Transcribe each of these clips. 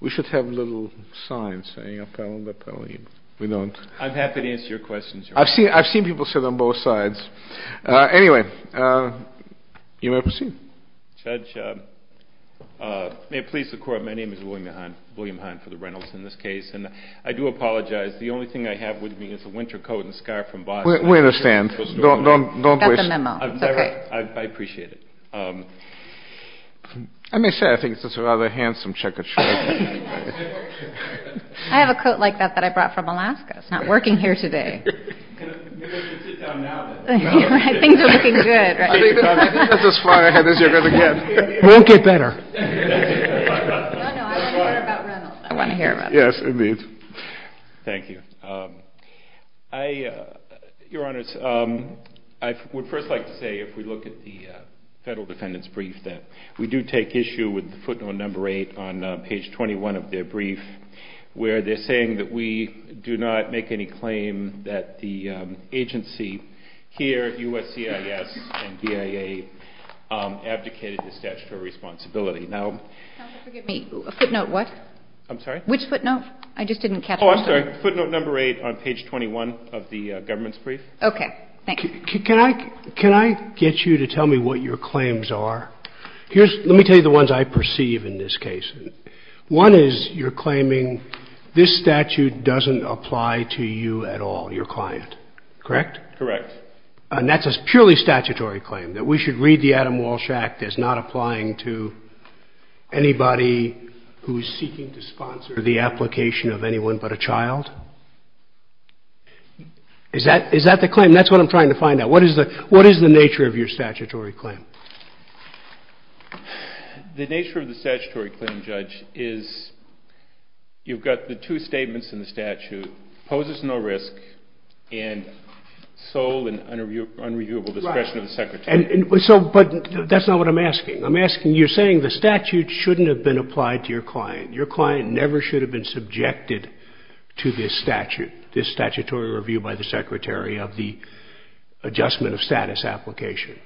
We should have little signs saying appellate, appellate. We don't. I'm happy to answer your questions, Your Honor. I've seen people sit on both sides. Anyway, you may proceed. Judge, may it please the Court, my name is William Hine for the Reynolds in this case, and I do apologize. The only thing I have with me is a winter coat and scarf from Boston. We understand. Don't wish. That's a memo. It's okay. I appreciate it. Let me say, I think it's a rather handsome checkered shirt. I have a coat like that that I brought from Alaska. It's not working here today. You can sit down now. Things are looking good. I think this is as far ahead as you're going to get. It won't get better. No, no, I want to hear about Reynolds. I want to hear about Reynolds. Yes, indeed. Thank you. Your Honors, I would first like to say, if we look at the Federal Defendant's brief, that we do take issue with footnote number 8 on page 21 of their brief, where they're saying that we do not make any claim that the agency here, USCIS and DIA, abdicated the statutory responsibility. Counsel, forgive me. Footnote what? I'm sorry? Which footnote? I just didn't catch all of them. Oh, I'm sorry. Footnote number 8 on page 21 of the government's brief. Okay. Thanks. Can I get you to tell me what your claims are? Let me tell you the ones I perceive in this case. One is you're claiming this statute doesn't apply to you at all, your client, correct? Correct. And that's a purely statutory claim, that we should read the Adam Walsh Act as not applying to anybody who is seeking to sponsor the application of anyone but a child? Is that the claim? That's what I'm trying to find out. What is the nature of your statutory claim? The nature of the statutory claim, Judge, is you've got the two statements in the statute, poses no risk, and sole and unreviewable discretion of the Secretary. But that's not what I'm asking. I'm asking, you're saying the statute shouldn't have been applied to your client. Your client never should have been subjected to this statute, this statutory review by the Secretary of the adjustment of status application.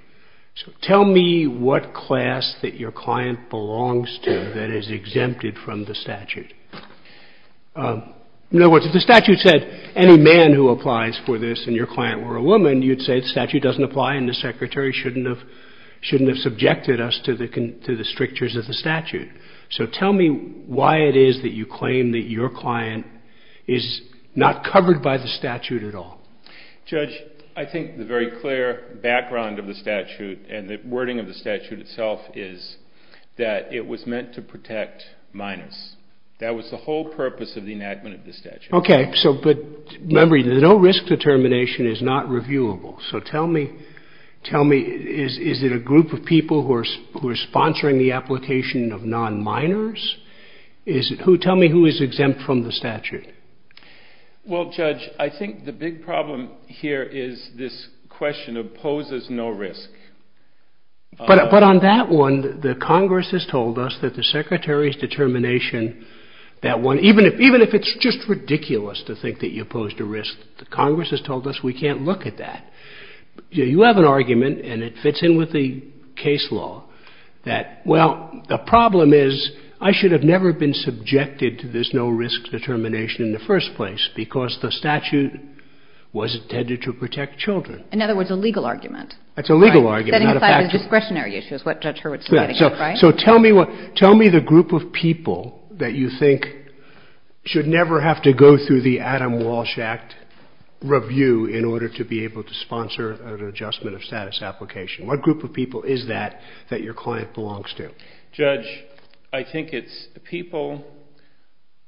So tell me what class that your client belongs to that is exempted from the statute. In other words, if the statute said any man who applies for this and your client were a woman, you'd say the statute doesn't apply and the Secretary shouldn't have subjected us to the strictures of the statute. So tell me why it is that you claim that your client is not covered by the statute at all. Judge, I think the very clear background of the statute and the wording of the statute itself is that it was meant to protect minus. That was the whole purpose of the enactment of the statute. Okay, but remember, the no risk determination is not reviewable. So tell me, is it a group of people who are sponsoring the application of non-minors? Tell me who is exempt from the statute. Well, Judge, I think the big problem here is this question of poses no risk. But on that one, the Congress has told us that the Secretary's determination, that one, even if it's just ridiculous to think that you posed a risk, the Congress has told us we can't look at that. You have an argument and it fits in with the case law that, well, the problem is I should have never been subjected to this no risk determination in the first place because the statute was intended to protect children. In other words, a legal argument. That's a legal argument. Setting aside the discretionary issues, what Judge Hurwitz is getting at, right? So tell me the group of people that you think should never have to go through the Adam Walsh Act review in order to be able to sponsor an adjustment of status application. What group of people is that that your client belongs to? Judge, I think it's people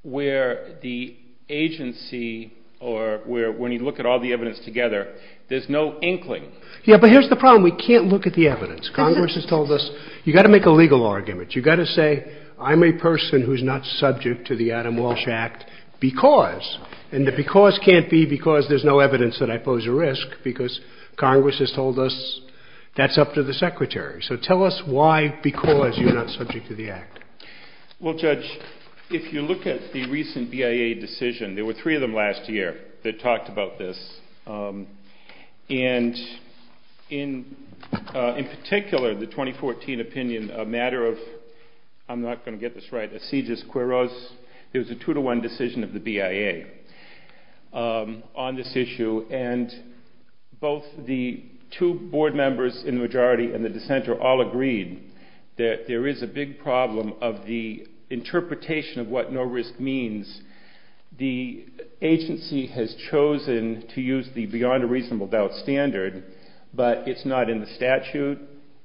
where the agency or where when you look at all the evidence together, there's no inkling. Yeah, but here's the problem. We can't look at the evidence. Congress has told us you've got to make a legal argument. You've got to say I'm a person who's not subject to the Adam Walsh Act because, and the because can't be because there's no evidence that I pose a risk because Congress has told us that's up to the secretary. So tell us why because you're not subject to the act. Well, Judge, if you look at the recent BIA decision, there were three of them last year that talked about this. And in particular, the 2014 opinion, a matter of, I'm not going to get this right, there was a two-to-one decision of the BIA on this issue and both the two board members in the majority and the dissenter all agreed that there is a big problem of the interpretation of what no risk means. The agency has chosen to use the beyond a reasonable doubt standard, but it's not in the statute.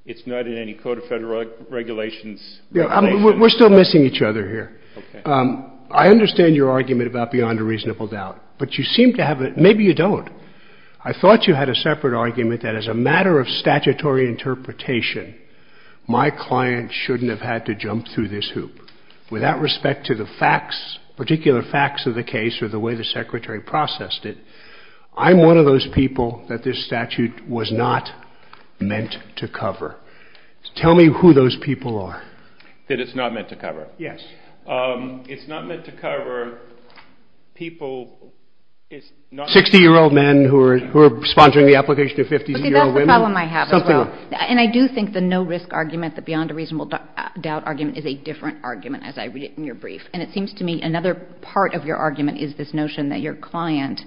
It's not in any Code of Federal Regulations. We're still missing each other here. I understand your argument about beyond a reasonable doubt, but you seem to have, maybe you don't. I thought you had a separate argument that as a matter of statutory interpretation, my client shouldn't have had to jump through this hoop. With that respect to the facts, particular facts of the case or the way the secretary processed it, I'm one of those people that this statute was not meant to cover. Tell me who those people are. That it's not meant to cover. Yes. It's not meant to cover people. 60-year-old men who are sponsoring the application of 50-year-old women. Okay, that's the problem I have as well. And I do think the no risk argument, the beyond a reasonable doubt argument is a different argument as I read it in your brief. And it seems to me another part of your argument is this notion that your client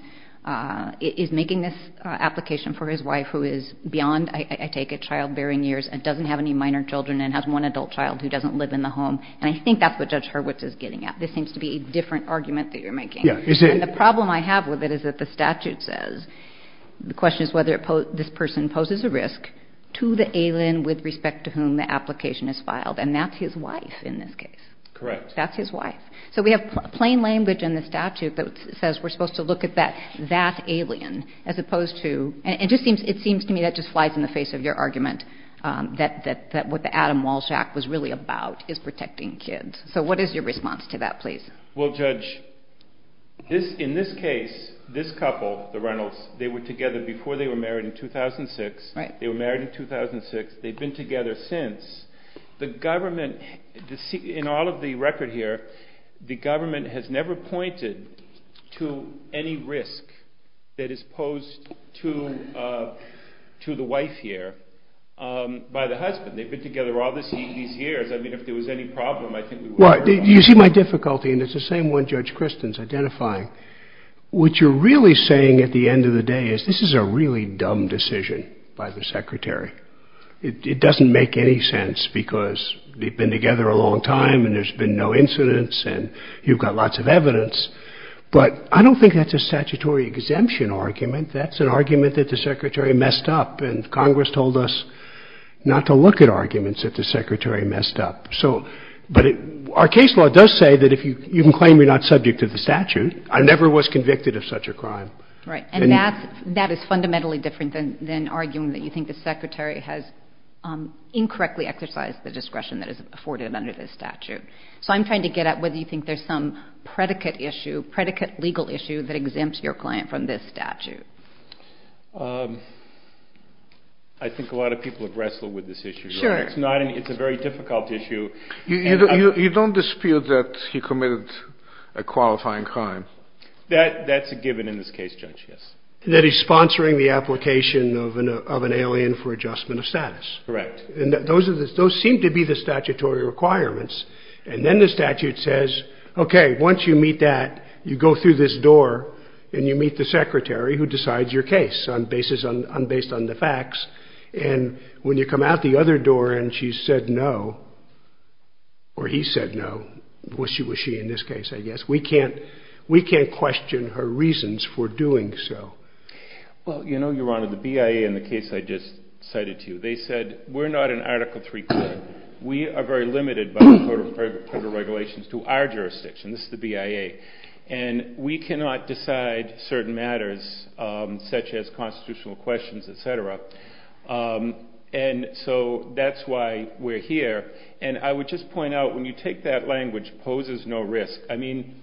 is making this application for his wife who is beyond, I take it, childbearing years and doesn't have any minor children and has one adult child who doesn't live in the home. And I think that's what Judge Hurwitz is getting at. This seems to be a different argument that you're making. Yeah. And the problem I have with it is that the statute says the question is whether this person poses a risk to the alien with respect to whom the application is filed. And that's his wife in this case. Correct. That's his wife. So we have plain language in the statute that says we're supposed to look at that alien as opposed to, and it seems to me that just flies in the face of your argument that what the Adam Walsh Act was really about is protecting kids. So what is your response to that, please? Well, Judge, in this case, this couple, the Reynolds, they were together before they were married in 2006. Right. They were married in 2006. They've been together since. The government, in all of the record here, the government has never pointed to any risk that is posed to the wife here by the husband. They've been together all these years. I mean, if there was any problem, I think we would agree on that. Well, you see my difficulty, and it's the same one Judge Christin's identifying. What you're really saying at the end of the day is this is a really dumb decision by the secretary. It doesn't make any sense because they've been together a long time and there's been no incidents and you've got lots of evidence. But I don't think that's a statutory exemption argument. That's an argument that the secretary messed up, and Congress told us not to look at arguments that the secretary messed up. But our case law does say that if you can claim you're not subject to the statute. I never was convicted of such a crime. Right. And that is fundamentally different than arguing that you think the secretary has incorrectly exercised the discretion that is afforded under this statute. So I'm trying to get at whether you think there's some predicate issue, predicate legal issue, that exempts your client from this statute. I think a lot of people have wrestled with this issue. Sure. It's a very difficult issue. You don't dispute that he committed a qualifying crime. That's a given in this case, Judge, yes. That he's sponsoring the application of an alien for adjustment of status. Correct. And those seem to be the statutory requirements. And then the statute says, okay, once you meet that, you go through this door and you meet the secretary who decides your case based on the facts. And when you come out the other door and she said no, or he said no, was she in this case, I guess, we can't question her reasons for doing so. Well, you know, Your Honor, the BIA in the case I just cited to you, they said we're not an Article III court. We are very limited by the Code of Federal Regulations to our jurisdiction. This is the BIA. And we cannot decide certain matters such as constitutional questions, et cetera. And so that's why we're here. And I would just point out, when you take that language, poses no risk, I mean,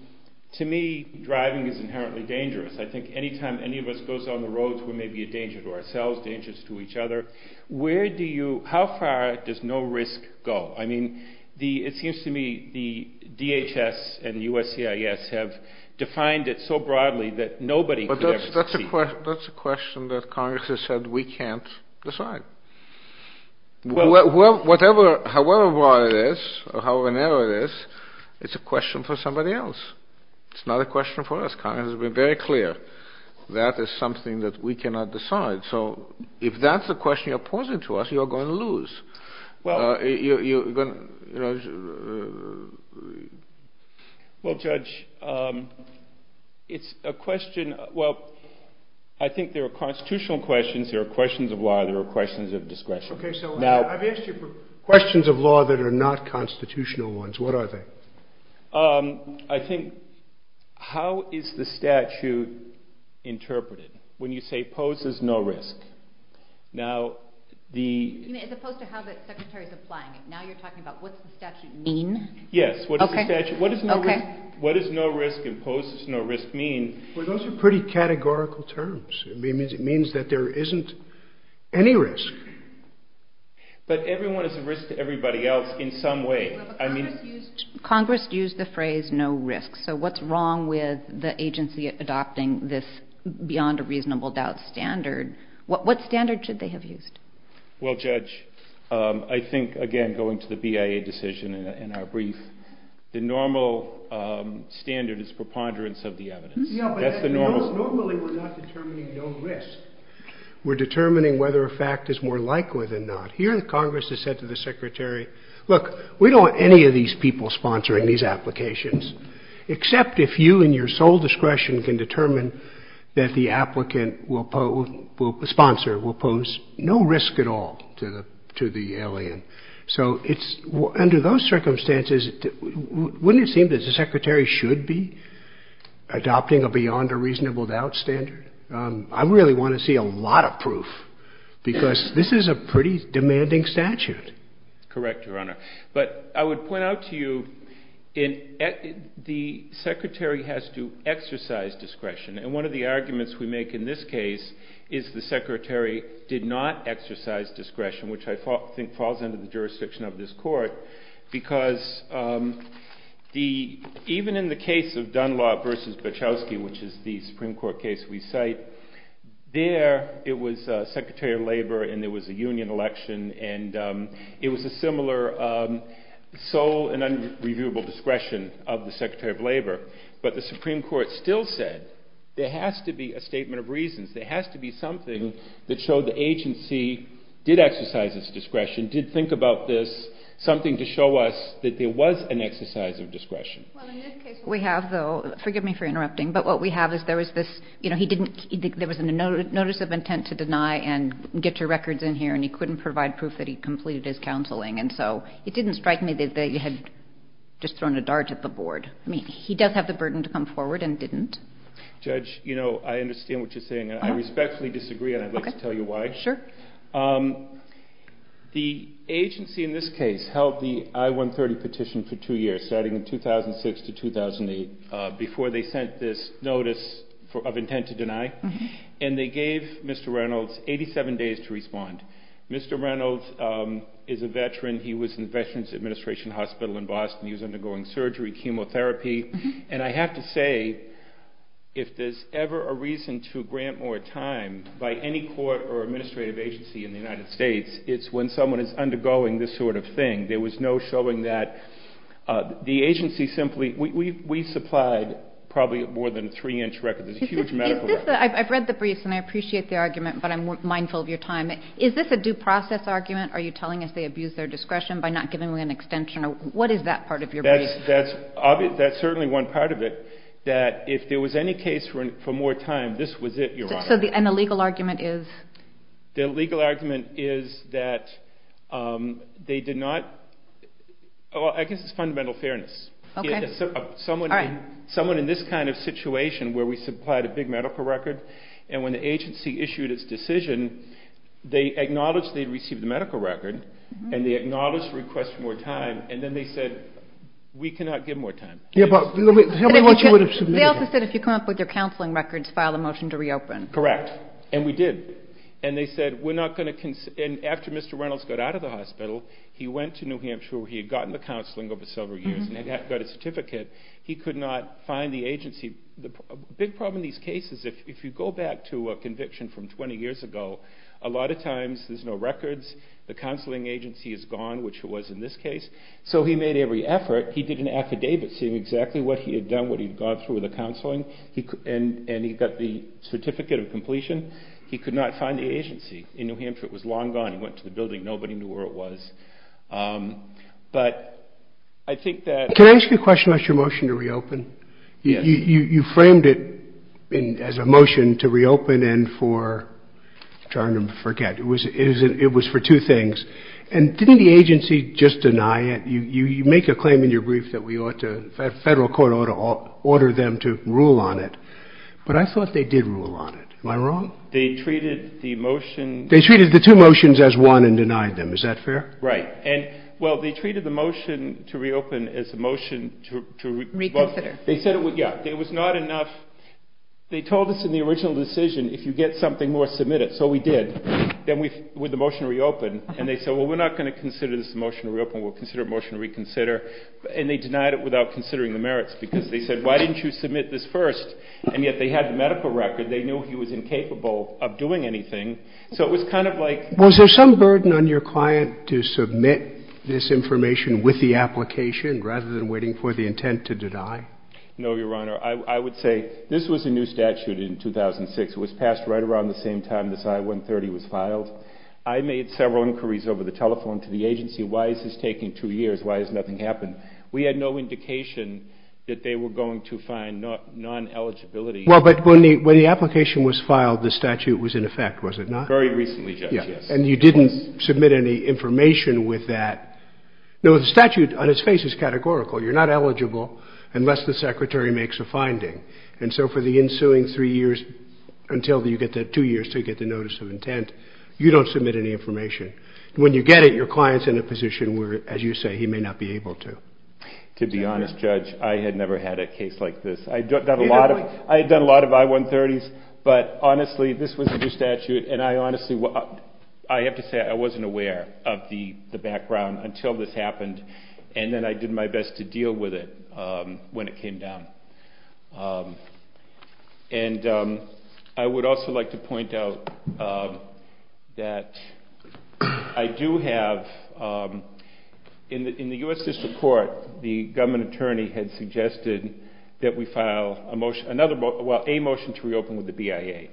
to me, driving is inherently dangerous. I think any time any of us goes on the roads, we may be a danger to ourselves, dangers to each other. Where do you – how far does no risk go? I mean, it seems to me the DHS and USCIS have defined it so broadly that nobody could ever succeed. That's a question that Congress has said we can't decide. However broad it is or however narrow it is, it's a question for somebody else. It's not a question for us. Congress has been very clear that is something that we cannot decide. So if that's the question you're posing to us, you're going to lose. Well, Judge, it's a question – well, I think there are constitutional questions, there are questions of law, there are questions of discretion. Okay, so I've asked you questions of law that are not constitutional ones. What are they? I think how is the statute interpreted when you say poses no risk? As opposed to how the Secretary is applying it. Now you're talking about what does the statute mean? Yes. Okay. What does no risk impose, no risk mean? Well, those are pretty categorical terms. It means that there isn't any risk. But everyone is a risk to everybody else in some way. Congress used the phrase no risk. So what's wrong with the agency adopting this beyond a reasonable doubt standard? What standard should they have used? Well, Judge, I think, again, going to the BIA decision in our brief, the normal standard is preponderance of the evidence. Normally we're not determining no risk. We're determining whether a fact is more likely than not. Here Congress has said to the Secretary, look, we don't want any of these people sponsoring these applications, except if you and your sole discretion can determine that the applicant will sponsor, will pose no risk at all to the alien. So under those circumstances, wouldn't it seem that the Secretary should be adopting a beyond a reasonable doubt standard? I really want to see a lot of proof, because this is a pretty demanding statute. Correct, Your Honor. But I would point out to you, the Secretary has to exercise discretion. And one of the arguments we make in this case is the Secretary did not exercise discretion, which I think falls under the jurisdiction of this Court, because even in the case of Dunlop v. Bachowski, which is the Supreme Court case we cite, there it was Secretary of Labor and there was a union election, and it was a similar sole and unreviewable discretion of the Secretary of Labor. But the Supreme Court still said there has to be a statement of reasons, there has to be something that showed the agency did exercise its discretion, did think about this, something to show us that there was an exercise of discretion. Well, in this case we have, though, forgive me for interrupting, but what we have is there was this, you know, he didn't, there was a notice of intent to deny and get your records in here and he couldn't provide proof that he completed his counseling. And so it didn't strike me that they had just thrown a dart at the board. I mean, he does have the burden to come forward and didn't. Judge, you know, I understand what you're saying and I respectfully disagree and I'd like to tell you why. Sure. The agency in this case held the I-130 petition for two years, starting in 2006 to 2008 before they sent this notice of intent to deny, and they gave Mr. Reynolds 87 days to respond. Mr. Reynolds is a veteran, he was in Veterans Administration Hospital in Boston, he was undergoing surgery, chemotherapy, and I have to say if there's ever a reason to grant more time by any court or administrative agency in the United States, it's when someone is undergoing this sort of thing. There was no showing that the agency simply, we supplied probably more than a three-inch record. There's a huge medical record. I've read the briefs and I appreciate the argument, but I'm mindful of your time. Is this a due process argument? Are you telling us they abused their discretion by not giving them an extension? What is that part of your brief? That's certainly one part of it, that if there was any case for more time, this was it, Your Honor. And the legal argument is? The legal argument is that they did not, I guess it's fundamental fairness. Okay. Someone in this kind of situation where we supplied a big medical record and when the agency issued its decision, they acknowledged they'd received the medical record and they acknowledged the request for more time and then they said, we cannot give more time. Yeah, but how much would have submitted? You also said if you come up with your counseling records, file a motion to reopen. Correct. And we did. And they said, we're not going to, and after Mr. Reynolds got out of the hospital, he went to New Hampshire where he had gotten the counseling over several years and had got a certificate, he could not find the agency. The big problem in these cases, if you go back to a conviction from 20 years ago, a lot of times there's no records, the counseling agency is gone, which it was in this case, so he made every effort, he did an affidavit saying exactly what he had done, what he had gone through with the counseling, and he got the certificate of completion. He could not find the agency in New Hampshire. It was long gone. He went to the building. Nobody knew where it was. But I think that. Can I ask you a question about your motion to reopen? Yes. You framed it as a motion to reopen and for, I'm trying to forget, it was for two things. And didn't the agency just deny it? You make a claim in your brief that we ought to, federal court ought to order them to rule on it. But I thought they did rule on it. Am I wrong? They treated the motion. They treated the two motions as one and denied them. Is that fair? Right. And, well, they treated the motion to reopen as a motion to. Reconsider. They said it was not enough. They told us in the original decision, if you get something more, submit it. So we did. Then we, with the motion to reopen, and they said, well, we're not going to consider this a motion to reopen. We'll consider it a motion to reconsider. And they denied it without considering the merits because they said, why didn't you submit this first? And yet they had the medical record. They knew he was incapable of doing anything. So it was kind of like. Was there some burden on your client to submit this information with the application rather than waiting for the intent to deny? No, Your Honor. I would say this was a new statute in 2006. It was passed right around the same time this I-130 was filed. I made several inquiries over the telephone to the agency. Why is this taking two years? Why has nothing happened? We had no indication that they were going to find non-eligibility. Well, but when the application was filed, the statute was in effect, was it not? Very recently, Judge, yes. And you didn't submit any information with that. No, the statute on its face is categorical. You're not eligible unless the secretary makes a finding. And so for the ensuing three years until you get that two years to get the notice of intent, you don't submit any information. When you get it, your client is in a position where, as you say, he may not be able to. To be honest, Judge, I had never had a case like this. I had done a lot of I-130s. But honestly, this was a new statute. And I honestly have to say I wasn't aware of the background until this happened. And then I did my best to deal with it when it came down. And I would also like to point out that I do have, in the U.S. District Court, the government attorney had suggested that we file a motion to reopen with the BIA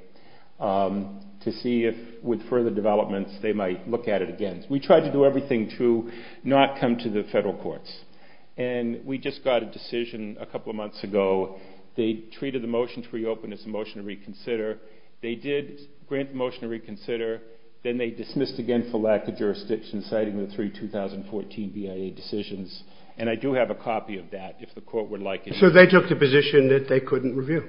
to see if with further developments they might look at it again. We tried to do everything to not come to the federal courts. And we just got a decision a couple of months ago. They treated the motion to reopen as a motion to reconsider. They did grant the motion to reconsider. Then they dismissed again for lack of jurisdiction, citing the three 2014 BIA decisions. And I do have a copy of that, if the Court would like it. So they took the position that they couldn't review?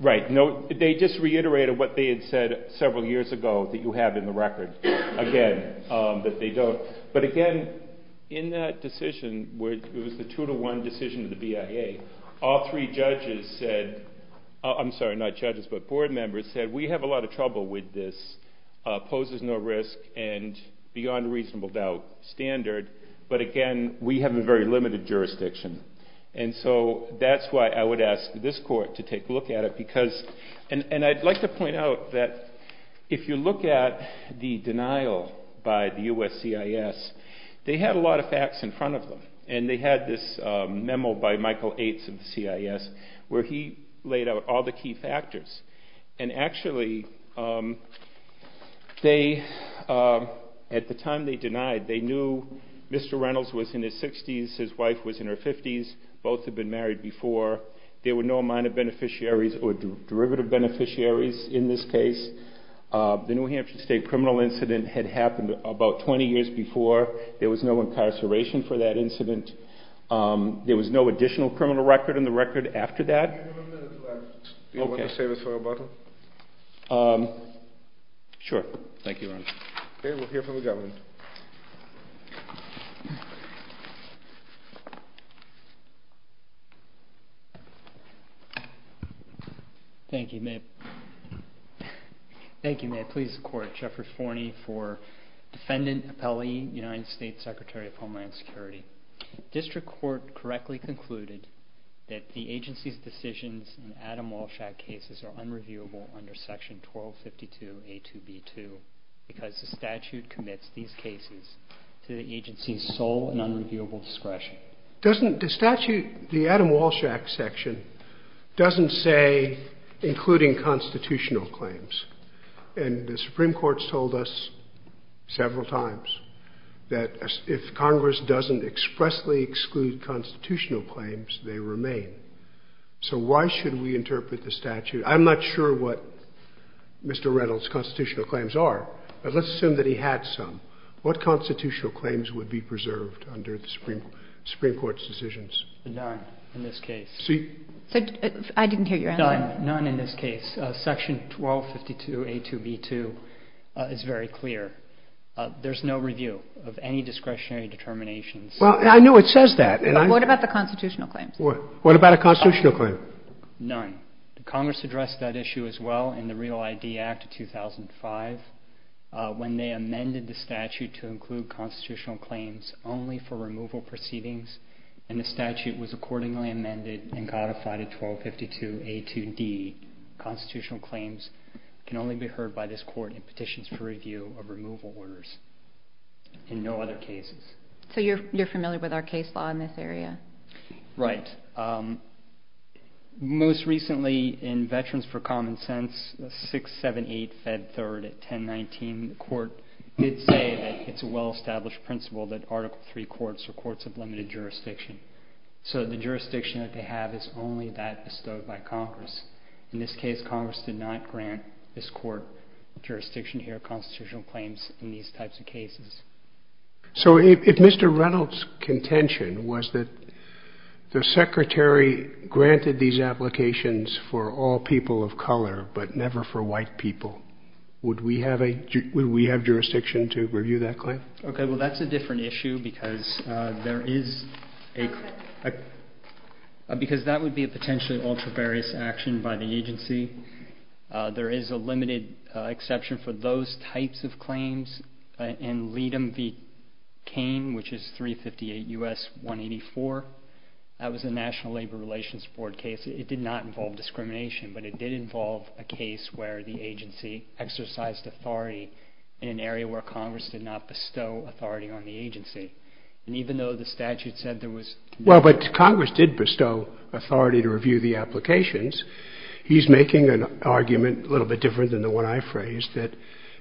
Right. No, they just reiterated what they had said several years ago that you have in the record, again, that they don't. But again, in that decision, it was the two-to-one decision of the BIA. All three judges said – I'm sorry, not judges, but board members said we have a lot of trouble with this, poses no risk, and beyond reasonable doubt, standard. But again, we have a very limited jurisdiction. And so that's why I would ask this Court to take a look at it. And I'd like to point out that if you look at the denial by the U.S. CIS, they had a lot of facts in front of them. And they had this memo by Michael Eights of the CIS where he laid out all the key factors. And actually, at the time they denied, they knew Mr. Reynolds was in his 60s, his wife was in her 50s, both had been married before. There were no minor beneficiaries or derivative beneficiaries in this case. The New Hampshire State criminal incident had happened about 20 years before. There was no incarceration for that incident. There was no additional criminal record in the record after that. Do you want to save it for a button? Sure. Thank you, Your Honor. Okay, we'll hear from the government. Thank you. May it please the Court. Jeffrey Forney for Defendant Appellee, United States Secretary of Homeland Security. District Court correctly concluded that the agency's decisions in Adam Walshack cases are unreviewable under Section 1252A2B2 because the statute commits these cases to the agency's sole and unreviewable discretion. The statute, the Adam Walshack section, doesn't say including constitutional claims. And the Supreme Court's told us several times that if Congress doesn't expressly exclude constitutional claims, they remain. So why should we interpret the statute? I'm not sure what Mr. Reynolds' constitutional claims are, but let's assume that he had some. What constitutional claims would be preserved under the Supreme Court's decisions? None in this case. I didn't hear your answer. None in this case. Section 1252A2B2 is very clear. There's no review of any discretionary determinations. I knew it says that. What about the constitutional claims? What about a constitutional claim? None. Congress addressed that issue as well in the Real ID Act of 2005 when they amended the statute to include constitutional claims only for removal proceedings, and the statute was accordingly amended and codified in 1252A2D. Constitutional claims can only be heard by this court in petitions for review of removal orders. In no other cases. So you're familiar with our case law in this area? Right. Most recently in Veterans for Common Sense, 678 Fed 3rd at 1019, the court did say that it's a well-established principle that Article III courts are courts of limited jurisdiction. So the jurisdiction that they have is only that bestowed by Congress. In this case, Congress did not grant this court jurisdiction to hear constitutional claims in these types of cases. So if Mr. Reynolds' contention was that the Secretary granted these applications for all people of color, but never for white people, would we have jurisdiction to review that claim? Okay. Well, that's a different issue because that would be a potentially ultra-various action by the agency. There is a limited exception for those types of claims in Leadom v. Cain, which is 358 U.S. 184. That was a National Labor Relations Board case. It did not involve discrimination, but it did involve a case where the agency exercised authority in an area where Congress did not bestow authority on the agency. And even though the statute said there was... Well, but Congress did bestow authority to review the applications. He's making an argument a little bit different than the one I phrased, that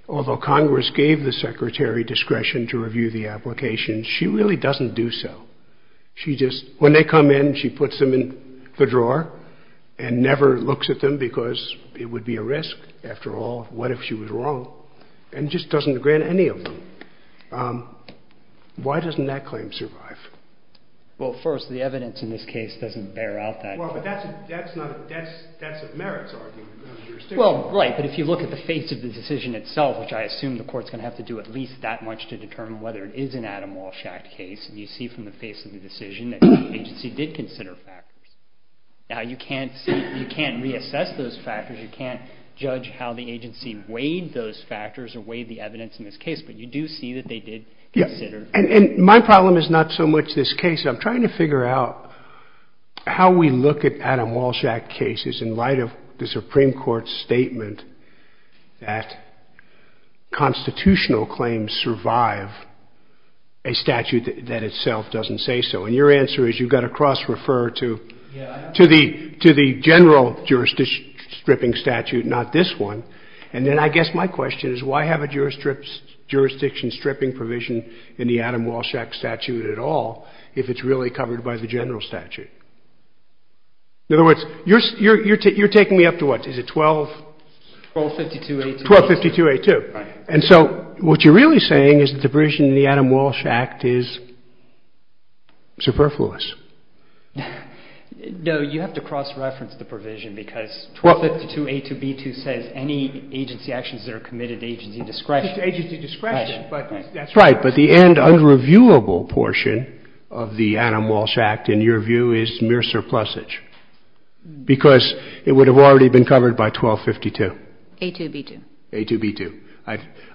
although Congress gave the Secretary discretion to review the applications, she really doesn't do so. She just... When they come in, she puts them in the drawer and never looks at them because it would be a risk. After all, what if she was wrong? And just doesn't grant any of them. Why doesn't that claim survive? Well, first, the evidence in this case doesn't bear out that... Well, but that's a merits argument. Well, right. But if you look at the face of the decision itself, which I assume the Court's going to have to do at least that much to determine whether it is an Adam Walsh Act case, you see from the face of the decision that the agency did consider factors. Now, you can't reassess those factors. You can't judge how the agency weighed those factors or weighed the evidence in this case, but you do see that they did consider... Yeah. And my problem is not so much this case. I'm trying to figure out how we look at Adam Walsh Act cases in light of the Supreme Court's statement that constitutional claims survive a statute that itself doesn't say so. And your answer is you've got to cross-refer to the general jurisdiction stripping statute, not this one. And then I guess my question is why have a jurisdiction stripping provision in the Adam Walsh Act statute at all if it's really covered by the general statute? In other words, you're taking me up to what? Is it 12... 1252A2. 1252A2. Right. And so what you're really saying is that the provision in the Adam Walsh Act is superfluous. No, you have to cross-reference the provision because 1252A2b2 says any agency actions that are committed to agency discretion... To agency discretion. Right. That's right. But the end unreviewable portion of the Adam Walsh Act, in your view, is mere surplusage because it would have already been covered by 1252. A2b2. A2b2.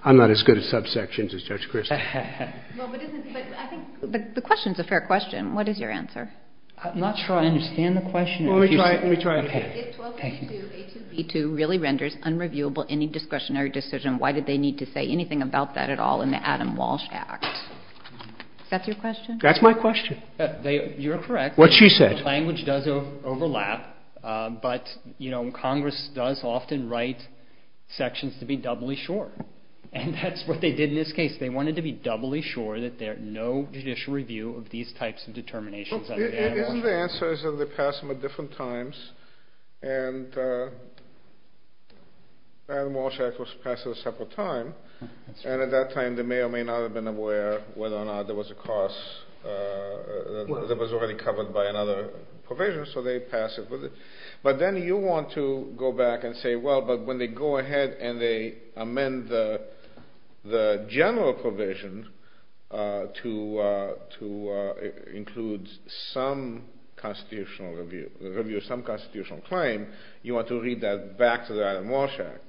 I'm not as good at subsections as Judge Christie. But I think the question is a fair question. What is your answer? I'm not sure I understand the question. Well, let me try it again. If 1252A2b2 really renders unreviewable any discretionary decision, why did they need to say anything about that at all in the Adam Walsh Act? Is that your question? That's my question. You're correct. What she said. Language does overlap, but Congress does often write sections to be doubly sure. And that's what they did in this case. They wanted to be doubly sure that there's no judicial review of these types of determinations under the Adam Walsh Act. Isn't the answer is that they passed them at different times, and Adam Walsh Act was passed at a separate time. And at that time they may or may not have been aware whether or not there was a cost that was already covered by another provision, so they passed it. But then you want to go back and say, well, but when they go ahead and they amend the general provision to include some constitutional review, some constitutional claim, you want to read that back to the Adam Walsh Act,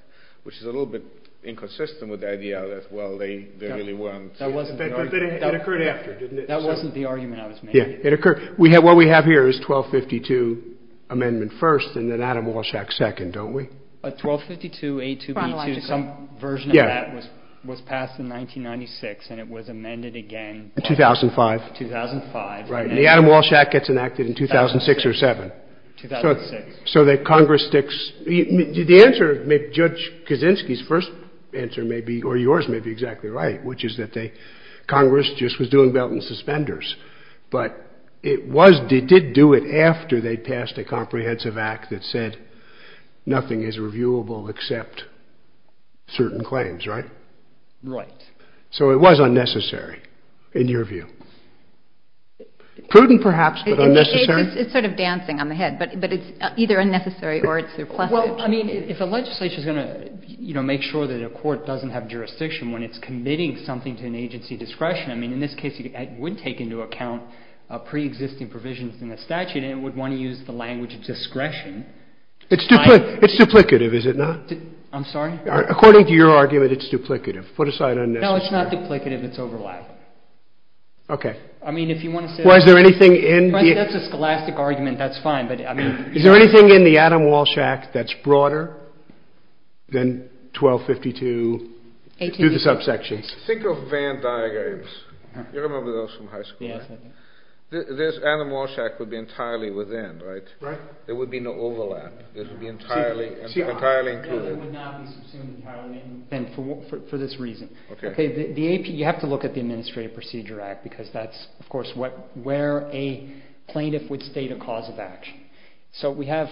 which is a little bit inconsistent with the idea that, well, they really weren't. It occurred after, didn't it? That wasn't the argument I was making. Yeah, it occurred. What we have here is 1252 amendment first and then Adam Walsh Act second, don't we? A 1252A2B2, some version of that was passed in 1996 and it was amended again in 2005. In 2005. Right. And the Adam Walsh Act gets enacted in 2006 or 2007. 2006. So that Congress sticks. The answer, Judge Kaczynski's first answer may be, or yours may be exactly right, which is that they, Congress just was doing belt and suspenders. But it was, it did do it after they passed a comprehensive act that said nothing is reviewable except certain claims, right? Right. So it was unnecessary, in your view. Prudent, perhaps, but unnecessary. It's sort of dancing on the head, but it's either unnecessary or it's surplus. Well, I mean, if a legislature's going to, you know, make sure that a court doesn't have jurisdiction when it's committing something to an agency discretion, I mean, in this case, it would take into account pre-existing provisions in the statute and it would want to use the language of discretion. It's duplicative, is it not? I'm sorry? According to your argument, it's duplicative. Put aside unnecessary. No, it's not duplicative, it's overlap. Okay. I mean, if you want to say. Well, is there anything in the... That's a scholastic argument, that's fine, but I mean... Is there anything in the Adam Walsh Act that's broader than 1252, do the subsections. Think of Van Dyke Apes. You remember those from high school, right? Yes, I do. This Adam Walsh Act would be entirely within, right? Right. There would be no overlap. It would be entirely included. It would not be subsumed entirely. And for this reason. Okay. You have to look at the Administrative Procedure Act because that's, of course, where a plaintiff would state a cause of action. So we have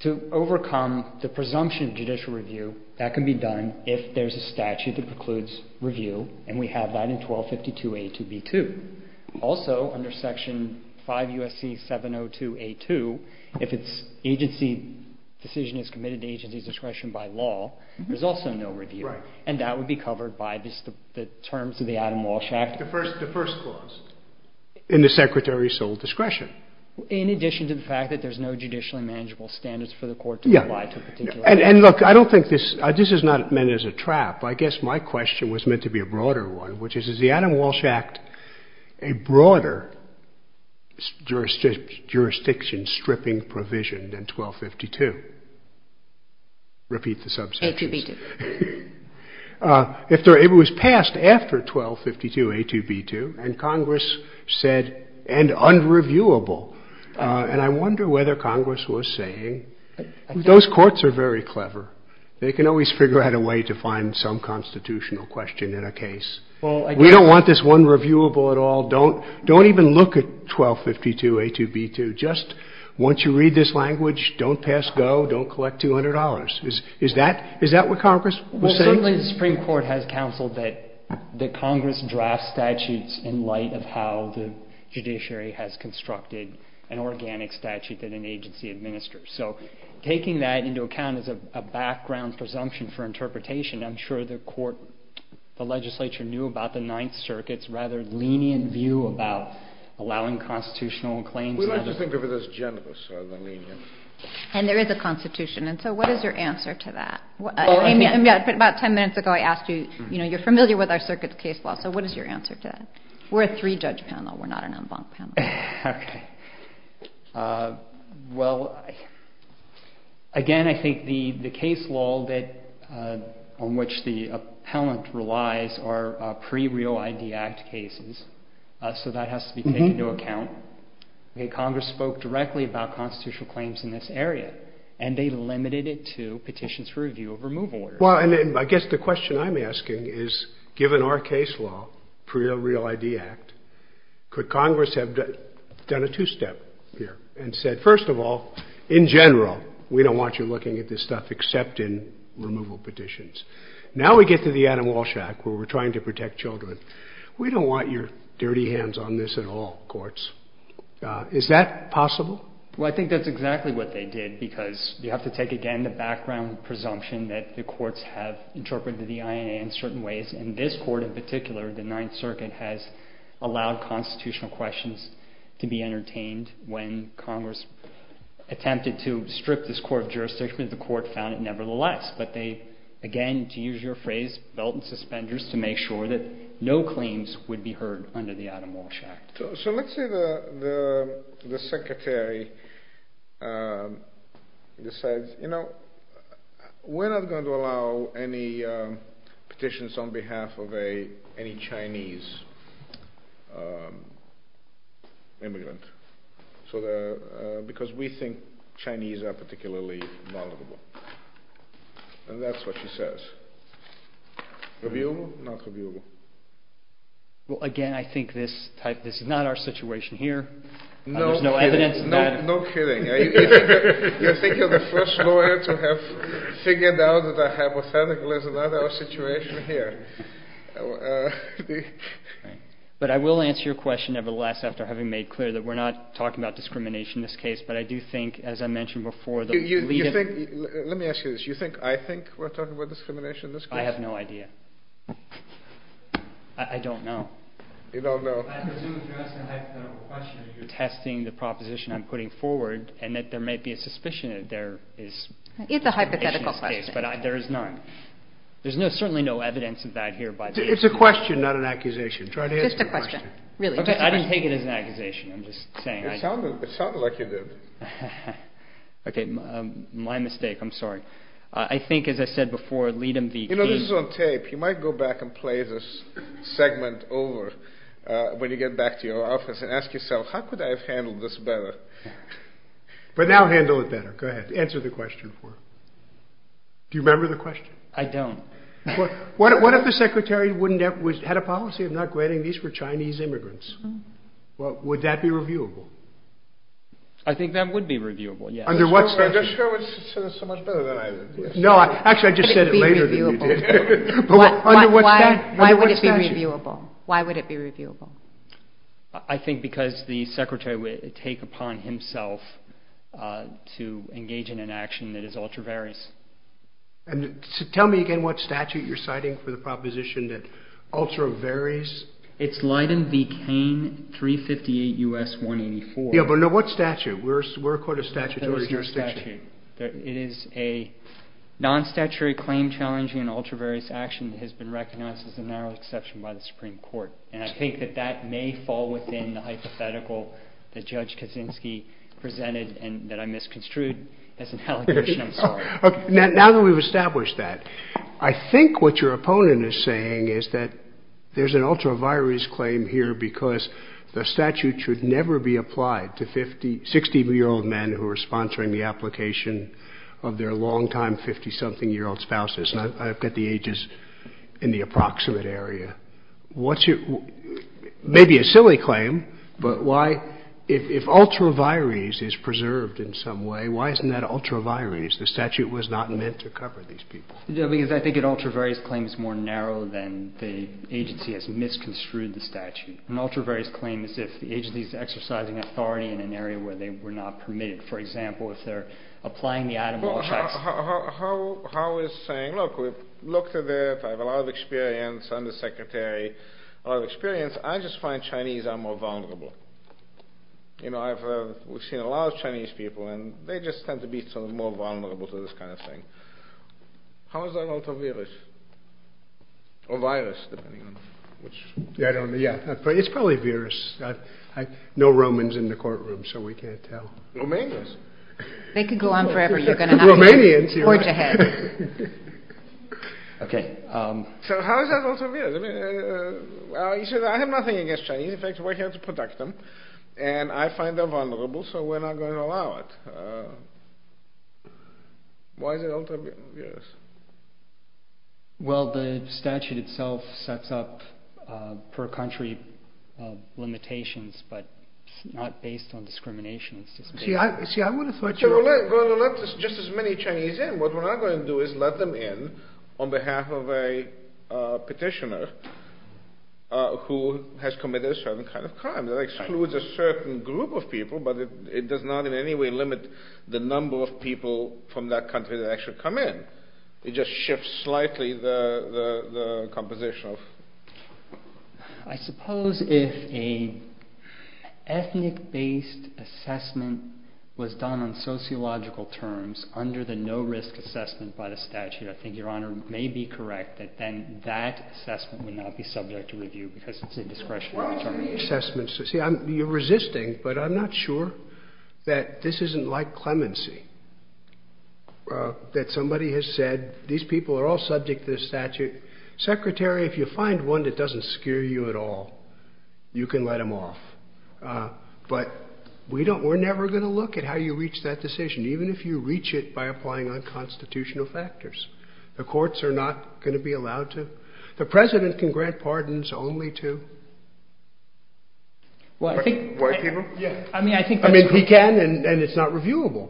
to overcome the presumption of judicial review. That can be done if there's a statute that precludes review, and we have that in 1252A2B2. Also, under Section 5 U.S.C. 702A2, if it's agency decision is committed to agency's discretion by law, there's also no review. Right. And that would be covered by the terms of the Adam Walsh Act. The first clause. In the secretary's sole discretion. In addition to the fact that there's no judicially manageable standards for the court to apply to a particular case. And look, I don't think this — this is not meant as a trap. I guess my question was meant to be a broader one, which is, is the Adam Walsh Act a broader jurisdiction stripping provision than 1252? Repeat the subsection. A2B2. It was passed after 1252A2B2, and Congress said, and unreviewable. And I wonder whether Congress was saying, those courts are very clever. They can always figure out a way to find some constitutional question in a case. We don't want this unreviewable at all. Don't even look at 1252A2B2. Just once you read this language, don't pass go, don't collect $200. Is that what Congress was saying? Well, certainly the Supreme Court has counseled that Congress draft statutes in light of how the judiciary has constructed an organic statute that an agency administers. So taking that into account as a background presumption for interpretation, I'm sure the court, the legislature knew about the Ninth Circuit's rather lenient view about allowing constitutional claims. We like to think of it as generous rather than lenient. And there is a constitution. And so what is your answer to that? About 10 minutes ago, I asked you, you're familiar with our circuit's case law. So what is your answer to that? We're a three-judge panel. We're not an en banc panel. Okay. Well, again, I think the case law on which the appellant relies are pre-Real ID Act cases. So that has to be taken into account. Congress spoke directly about constitutional claims in this area. And they limited it to petitions for review of removal orders. Well, and I guess the question I'm asking is, given our case law, pre-Real ID Act, could Congress have done a two-step here and said, first of all, in general, we don't want you looking at this stuff except in removal petitions. Now we get to the Adam Walsh Act where we're trying to protect children. We don't want your dirty hands on this at all, courts. Is that possible? Well, I think that's exactly what they did because you have to take, again, the background presumption that the courts have interpreted the INA in certain ways. And this court in particular, the Ninth Circuit, has allowed constitutional questions to be entertained. When Congress attempted to strip this court of jurisdiction, the court found it nevertheless. But they, again, to use your phrase, belt and suspenders to make sure that no claims would be heard under the Adam Walsh Act. So let's say the secretary decides, you know, we're not going to allow any petitions on behalf of any Chinese immigrant because we think Chinese are particularly vulnerable. And that's what she says. Reviewable? Not reviewable. Well, again, I think this is not our situation here. There's no evidence. No kidding. You think you're the first lawyer to have figured out that a hypothetical is not our situation here. But I will answer your question nevertheless after having made clear that we're not talking about discrimination in this case. But I do think, as I mentioned before, the leading… Let me ask you this. You think I think we're talking about discrimination in this case? I have no idea. I don't know. You don't know. I presume you're asking a hypothetical question. You're testing the proposition I'm putting forward and that there might be a suspicion that there is discrimination in this case. It's a hypothetical question. But there is none. There's certainly no evidence of that here by the… It's a question, not an accusation. Try to answer the question. It's just a question. Really, it's just a question. I didn't take it as an accusation. I'm just saying. It sounded like you did. Okay, my mistake. I'm sorry. I think, as I said before, lead them… You know, this is on tape. You might go back and play this segment over when you get back to your office and ask yourself, how could I have handled this better? But now handle it better. Go ahead. Answer the question for her. Do you remember the question? I don't. What if the Secretary had a policy of not granting these for Chinese immigrants? Would that be reviewable? I think that would be reviewable, yes. Under what circumstances? I just said it so much better than I did. No, actually, I just said it later than you did. Why would it be reviewable? Why would it be reviewable? I think because the Secretary would take upon himself to engage in an action that is ultra-various. Tell me again what statute you're citing for the proposition that ultra-various… It's Leiden v. Kane, 358 U.S. 184. Yeah, but what statute? We're a court of statutory jurisdiction. It is a non-statutory claim challenging an ultra-various action that has been recognized as a narrow exception by the Supreme Court. And I think that that may fall within the hypothetical that Judge Kaczynski presented and that I misconstrued as an allegation. I'm sorry. Now that we've established that, I think what your opponent is saying is that there's an ultra-various claim here because the statute should never be applied to 60-year-old men who are sponsoring the application of their long-time 50-something-year-old spouses. I've got the ages in the approximate area. Maybe a silly claim, but if ultra-various is preserved in some way, why isn't that ultra-various? The statute was not meant to cover these people. Yeah, because I think an ultra-various claim is more narrow than the agency has misconstrued the statute. An ultra-various claim is if the agency is exercising authority in an area where they were not permitted. For example, if they're applying the item law checks… How is saying, look, we've looked at it. I have a lot of experience. I'm the secretary. I have experience. I just find Chinese are more vulnerable. You know, we've seen a lot of Chinese people, and they just tend to be sort of more vulnerable to this kind of thing. How is that ultra-various? Or virus, depending on which… Yeah, I don't know. Yeah, but it's probably various. No Romans in the courtroom, so we can't tell. Romanians? They could go on forever. You're going to not hear them. Romanians, you're right. Port your head. Okay. So how is that ultra-various? He says, I have nothing against Chinese. In fact, we're here to protect them. And I find them vulnerable, so we're not going to allow it. Why is it ultra-various? Well, the statute itself sets up per country limitations, but it's not based on discrimination. See, I would have thought you were… We're going to let just as many Chinese in. What we're not going to do is let them in on behalf of a petitioner who has committed a certain kind of crime. That excludes a certain group of people, but it does not in any way limit the number of people from that country that actually come in. It just shifts slightly the composition of… I suppose if an ethnic-based assessment was done on sociological terms under the no-risk assessment by the statute, I think Your Honor may be correct that then that assessment would not be subject to review because it's a discretionary assessment. See, you're resisting, but I'm not sure that this isn't like clemency, that somebody has said, these people are all subject to the statute. Secretary, if you find one that doesn't scare you at all, you can let them off. But we're never going to look at how you reach that decision, even if you reach it by applying unconstitutional factors. The courts are not going to be allowed to. The President can grant pardons only to white people. I mean, he can, and it's not reviewable.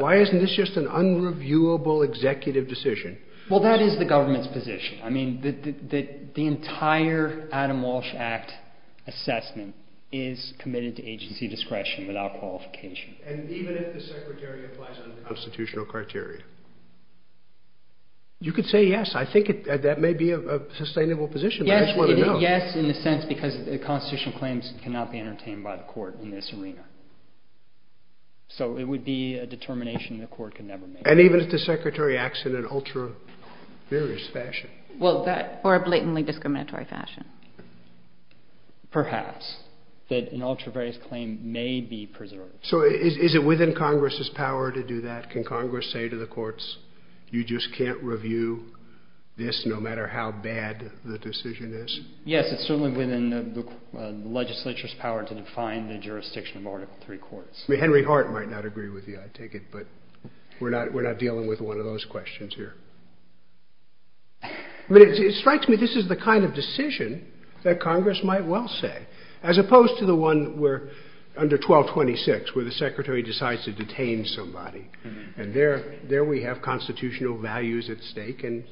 Why isn't this just an unreviewable executive decision? Well, that is the government's position. I mean, the entire Adam Walsh Act assessment is committed to agency discretion without qualification. And even if the Secretary applies unconstitutional criteria? You could say yes. I think that may be a sustainable position. I just want to know. Yes, in the sense because constitutional claims cannot be entertained by the court in this arena. So it would be a determination the court could never make. And even if the Secretary acts in an ultra-various fashion? Or a blatantly discriminatory fashion. Perhaps, that an ultra-various claim may be preserved. So is it within Congress's power to do that? Can Congress say to the courts, you just can't review this no matter how bad the decision is? Yes, it's certainly within the legislature's power to define the jurisdiction of Article III courts. I mean, Henry Hart might not agree with you, I take it. But we're not dealing with one of those questions here. But it strikes me this is the kind of decision that Congress might well say. As opposed to the one under 1226 where the Secretary decides to detain somebody. And there we have constitutional values at stake. And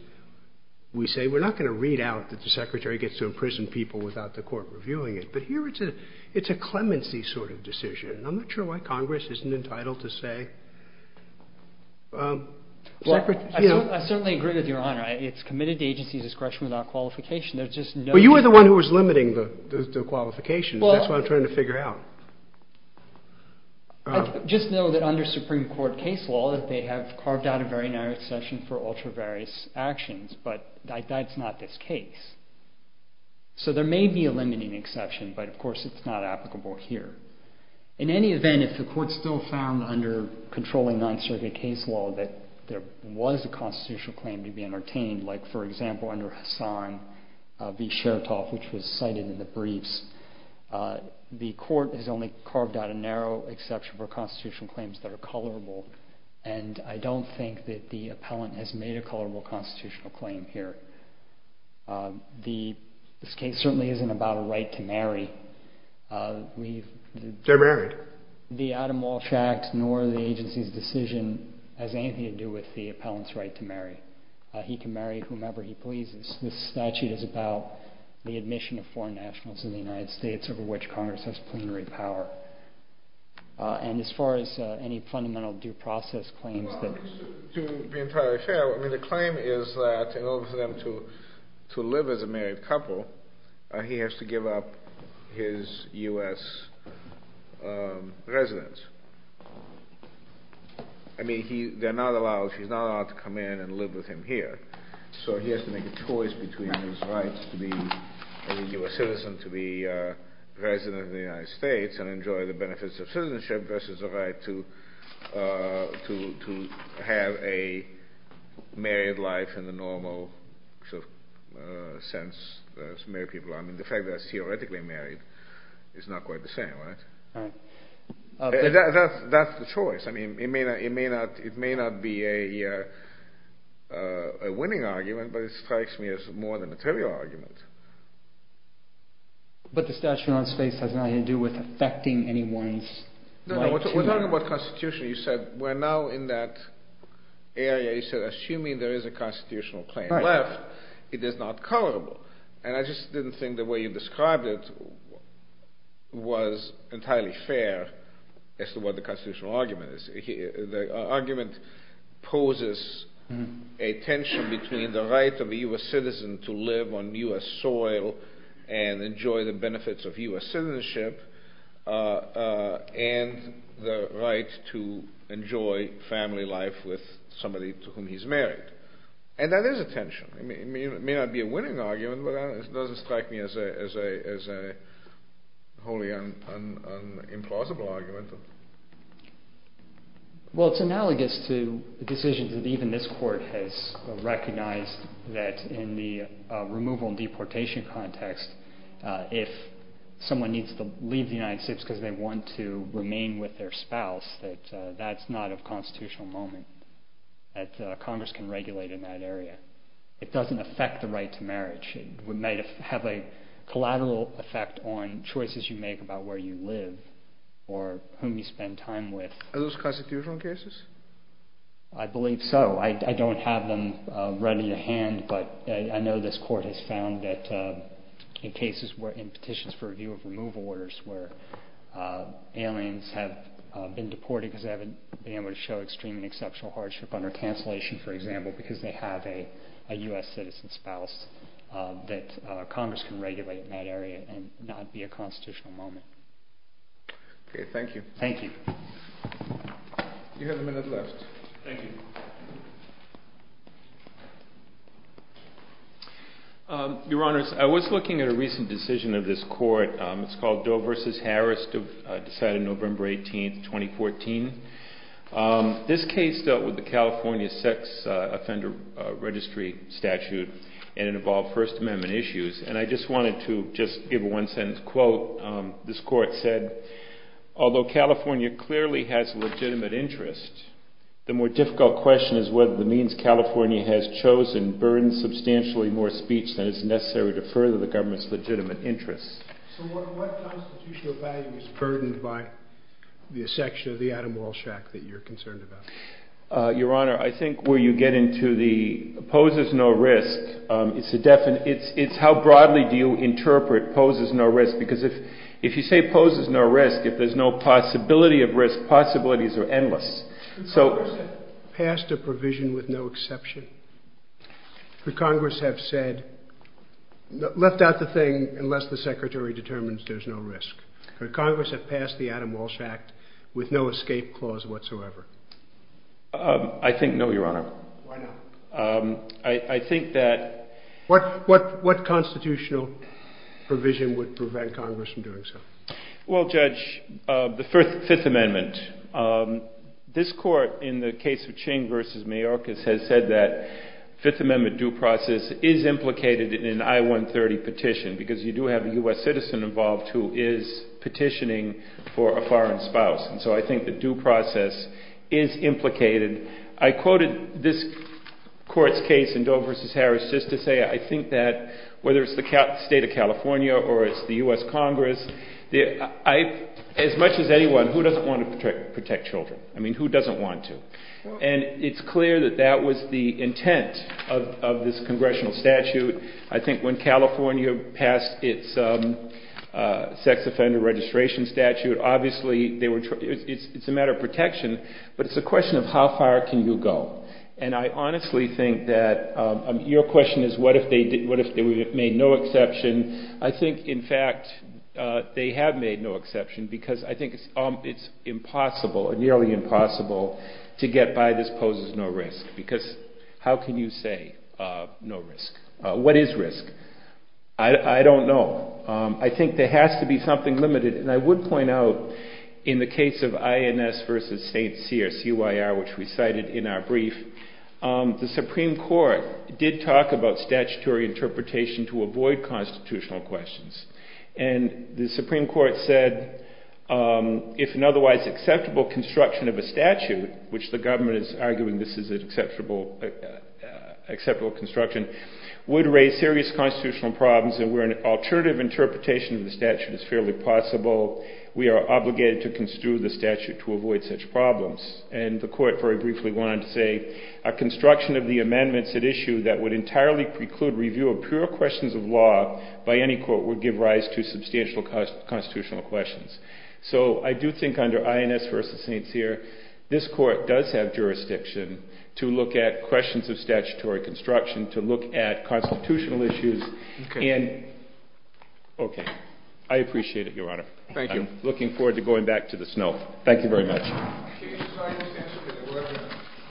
we say we're not going to read out that the Secretary gets to imprison people without the court reviewing it. But here it's a clemency sort of decision. And I'm not sure why Congress isn't entitled to say. I certainly agree with Your Honor. It's committed to agency's discretion without qualification. But you were the one who was limiting the qualifications. That's what I'm trying to figure out. I just know that under Supreme Court case law that they have carved out a very narrow section for ultra-various actions. But that's not this case. So there may be a limiting exception. But, of course, it's not applicable here. In any event, if the court still found under controlling Ninth Circuit case law that there was a constitutional claim to be entertained. Like, for example, under Hassan v. Chertoff, which was cited in the briefs. The court has only carved out a narrow exception for constitutional claims that are colorable. And I don't think that the appellant has made a colorable constitutional claim here. This case certainly isn't about a right to marry. They're married. The Adam Walsh Act nor the agency's decision has anything to do with the appellant's right to marry. He can marry whomever he pleases. This statute is about the admission of foreign nationals in the United States over which Congress has plenary power. And as far as any fundamental due process claims that... To be entirely fair, the claim is that in order for them to live as a married couple, he has to give up his U.S. residence. I mean, they're not allowed, she's not allowed to come in and live with him here. So he has to make a choice between his rights to be a U.S. citizen, to be president of the United States, and enjoy the benefits of citizenship versus the right to have a married life in the normal sense. I mean, the fact that they're theoretically married is not quite the same, right? That's the choice. I mean, it may not be a winning argument, but it strikes me as more of a material argument. But the statute on space has nothing to do with affecting anyone's right to... No, no, we're talking about constitution. You said we're now in that area. You said assuming there is a constitutional claim left, it is not colorable. And I just didn't think the way you described it was entirely fair as to what the constitutional argument is. The argument poses a tension between the right of a U.S. citizen to live on U.S. soil and enjoy the benefits of U.S. citizenship and the right to enjoy family life with somebody to whom he's married. And that is a tension. I mean, it may not be a winning argument, but it doesn't strike me as a wholly implausible argument. Well, it's analogous to decisions that even this court has recognized that in the removal and deportation context, if someone needs to leave the United States because they want to remain with their spouse, that that's not a constitutional moment that Congress can regulate in that area. It doesn't affect the right to marriage. It might have a collateral effect on choices you make about where you live or whom you spend time with. Are those constitutional cases? I believe so. I don't have them read in your hand, but I know this court has found that in cases where, in petitions for review of removal orders where aliens have been deported because they haven't been able to show extreme and exceptional hardship under cancellation, for example, because they have a U.S. citizen spouse, that Congress can regulate in that area and not be a constitutional moment. Okay, thank you. Thank you. You have a minute left. Thank you. Your Honors, I was looking at a recent decision of this court. It's called Doe v. Harris, decided November 18th, 2014. This case dealt with the California sex offender registry statute, and it involved First Amendment issues. And I just wanted to just give a one-sentence quote. This court said, although California clearly has a legitimate interest, the more difficult question is whether the means California has chosen burdens substantially more speech than is necessary to further the government's legitimate interests. So what constitutional value is burdened by the section of the Adam Walsh Act that you're concerned about? Your Honor, I think where you get into the poses no risk, it's how broadly do you interpret poses no risk? Because if you say poses no risk, if there's no possibility of risk, possibilities are endless. Congress has passed a provision with no exception. Could Congress have said, left out the thing unless the secretary determines there's no risk? Could Congress have passed the Adam Walsh Act with no escape clause whatsoever? I think no, Your Honor. Why not? I think that. What constitutional provision would prevent Congress from doing so? Well, Judge, the Fifth Amendment. This court in the case of Ching v. Mayorkas has said that Fifth Amendment due process is implicated in an I-130 petition because you do have a U.S. citizen involved who is petitioning for a foreign spouse. And so I think the due process is implicated. I quoted this court's case in Doe v. Harris just to say I think that whether it's the state of California or it's the U.S. Congress, as much as anyone, who doesn't want to protect children? I mean, who doesn't want to? And it's clear that that was the intent of this congressional statute. I think when California passed its sex offender registration statute, obviously it's a matter of protection, but it's a question of how far can you go. And I honestly think that your question is what if they made no exception. I think, in fact, they have made no exception because I think it's impossible, nearly impossible, to get by this poses no risk. Because how can you say no risk? What is risk? I don't know. I think there has to be something limited. And I would point out in the case of INS v. St. Cyr, which we cited in our brief, the Supreme Court did talk about statutory interpretation to avoid constitutional questions. And the Supreme Court said if an otherwise acceptable construction of a statute, which the government is arguing this is an acceptable construction, would raise serious constitutional problems and where an alternative interpretation of the statute is fairly possible, we are obligated to construe the statute to avoid such problems. And the court very briefly went on to say a construction of the amendments at issue that would entirely preclude review of pure questions of law by any court would give rise to substantial constitutional questions. So I do think under INS v. St. Cyr this court does have jurisdiction to look at questions of statutory construction, to look at constitutional issues. Okay. Okay. I appreciate it, Your Honor. Thank you. I'm looking forward to going back to the snow. Thank you very much. Thank you.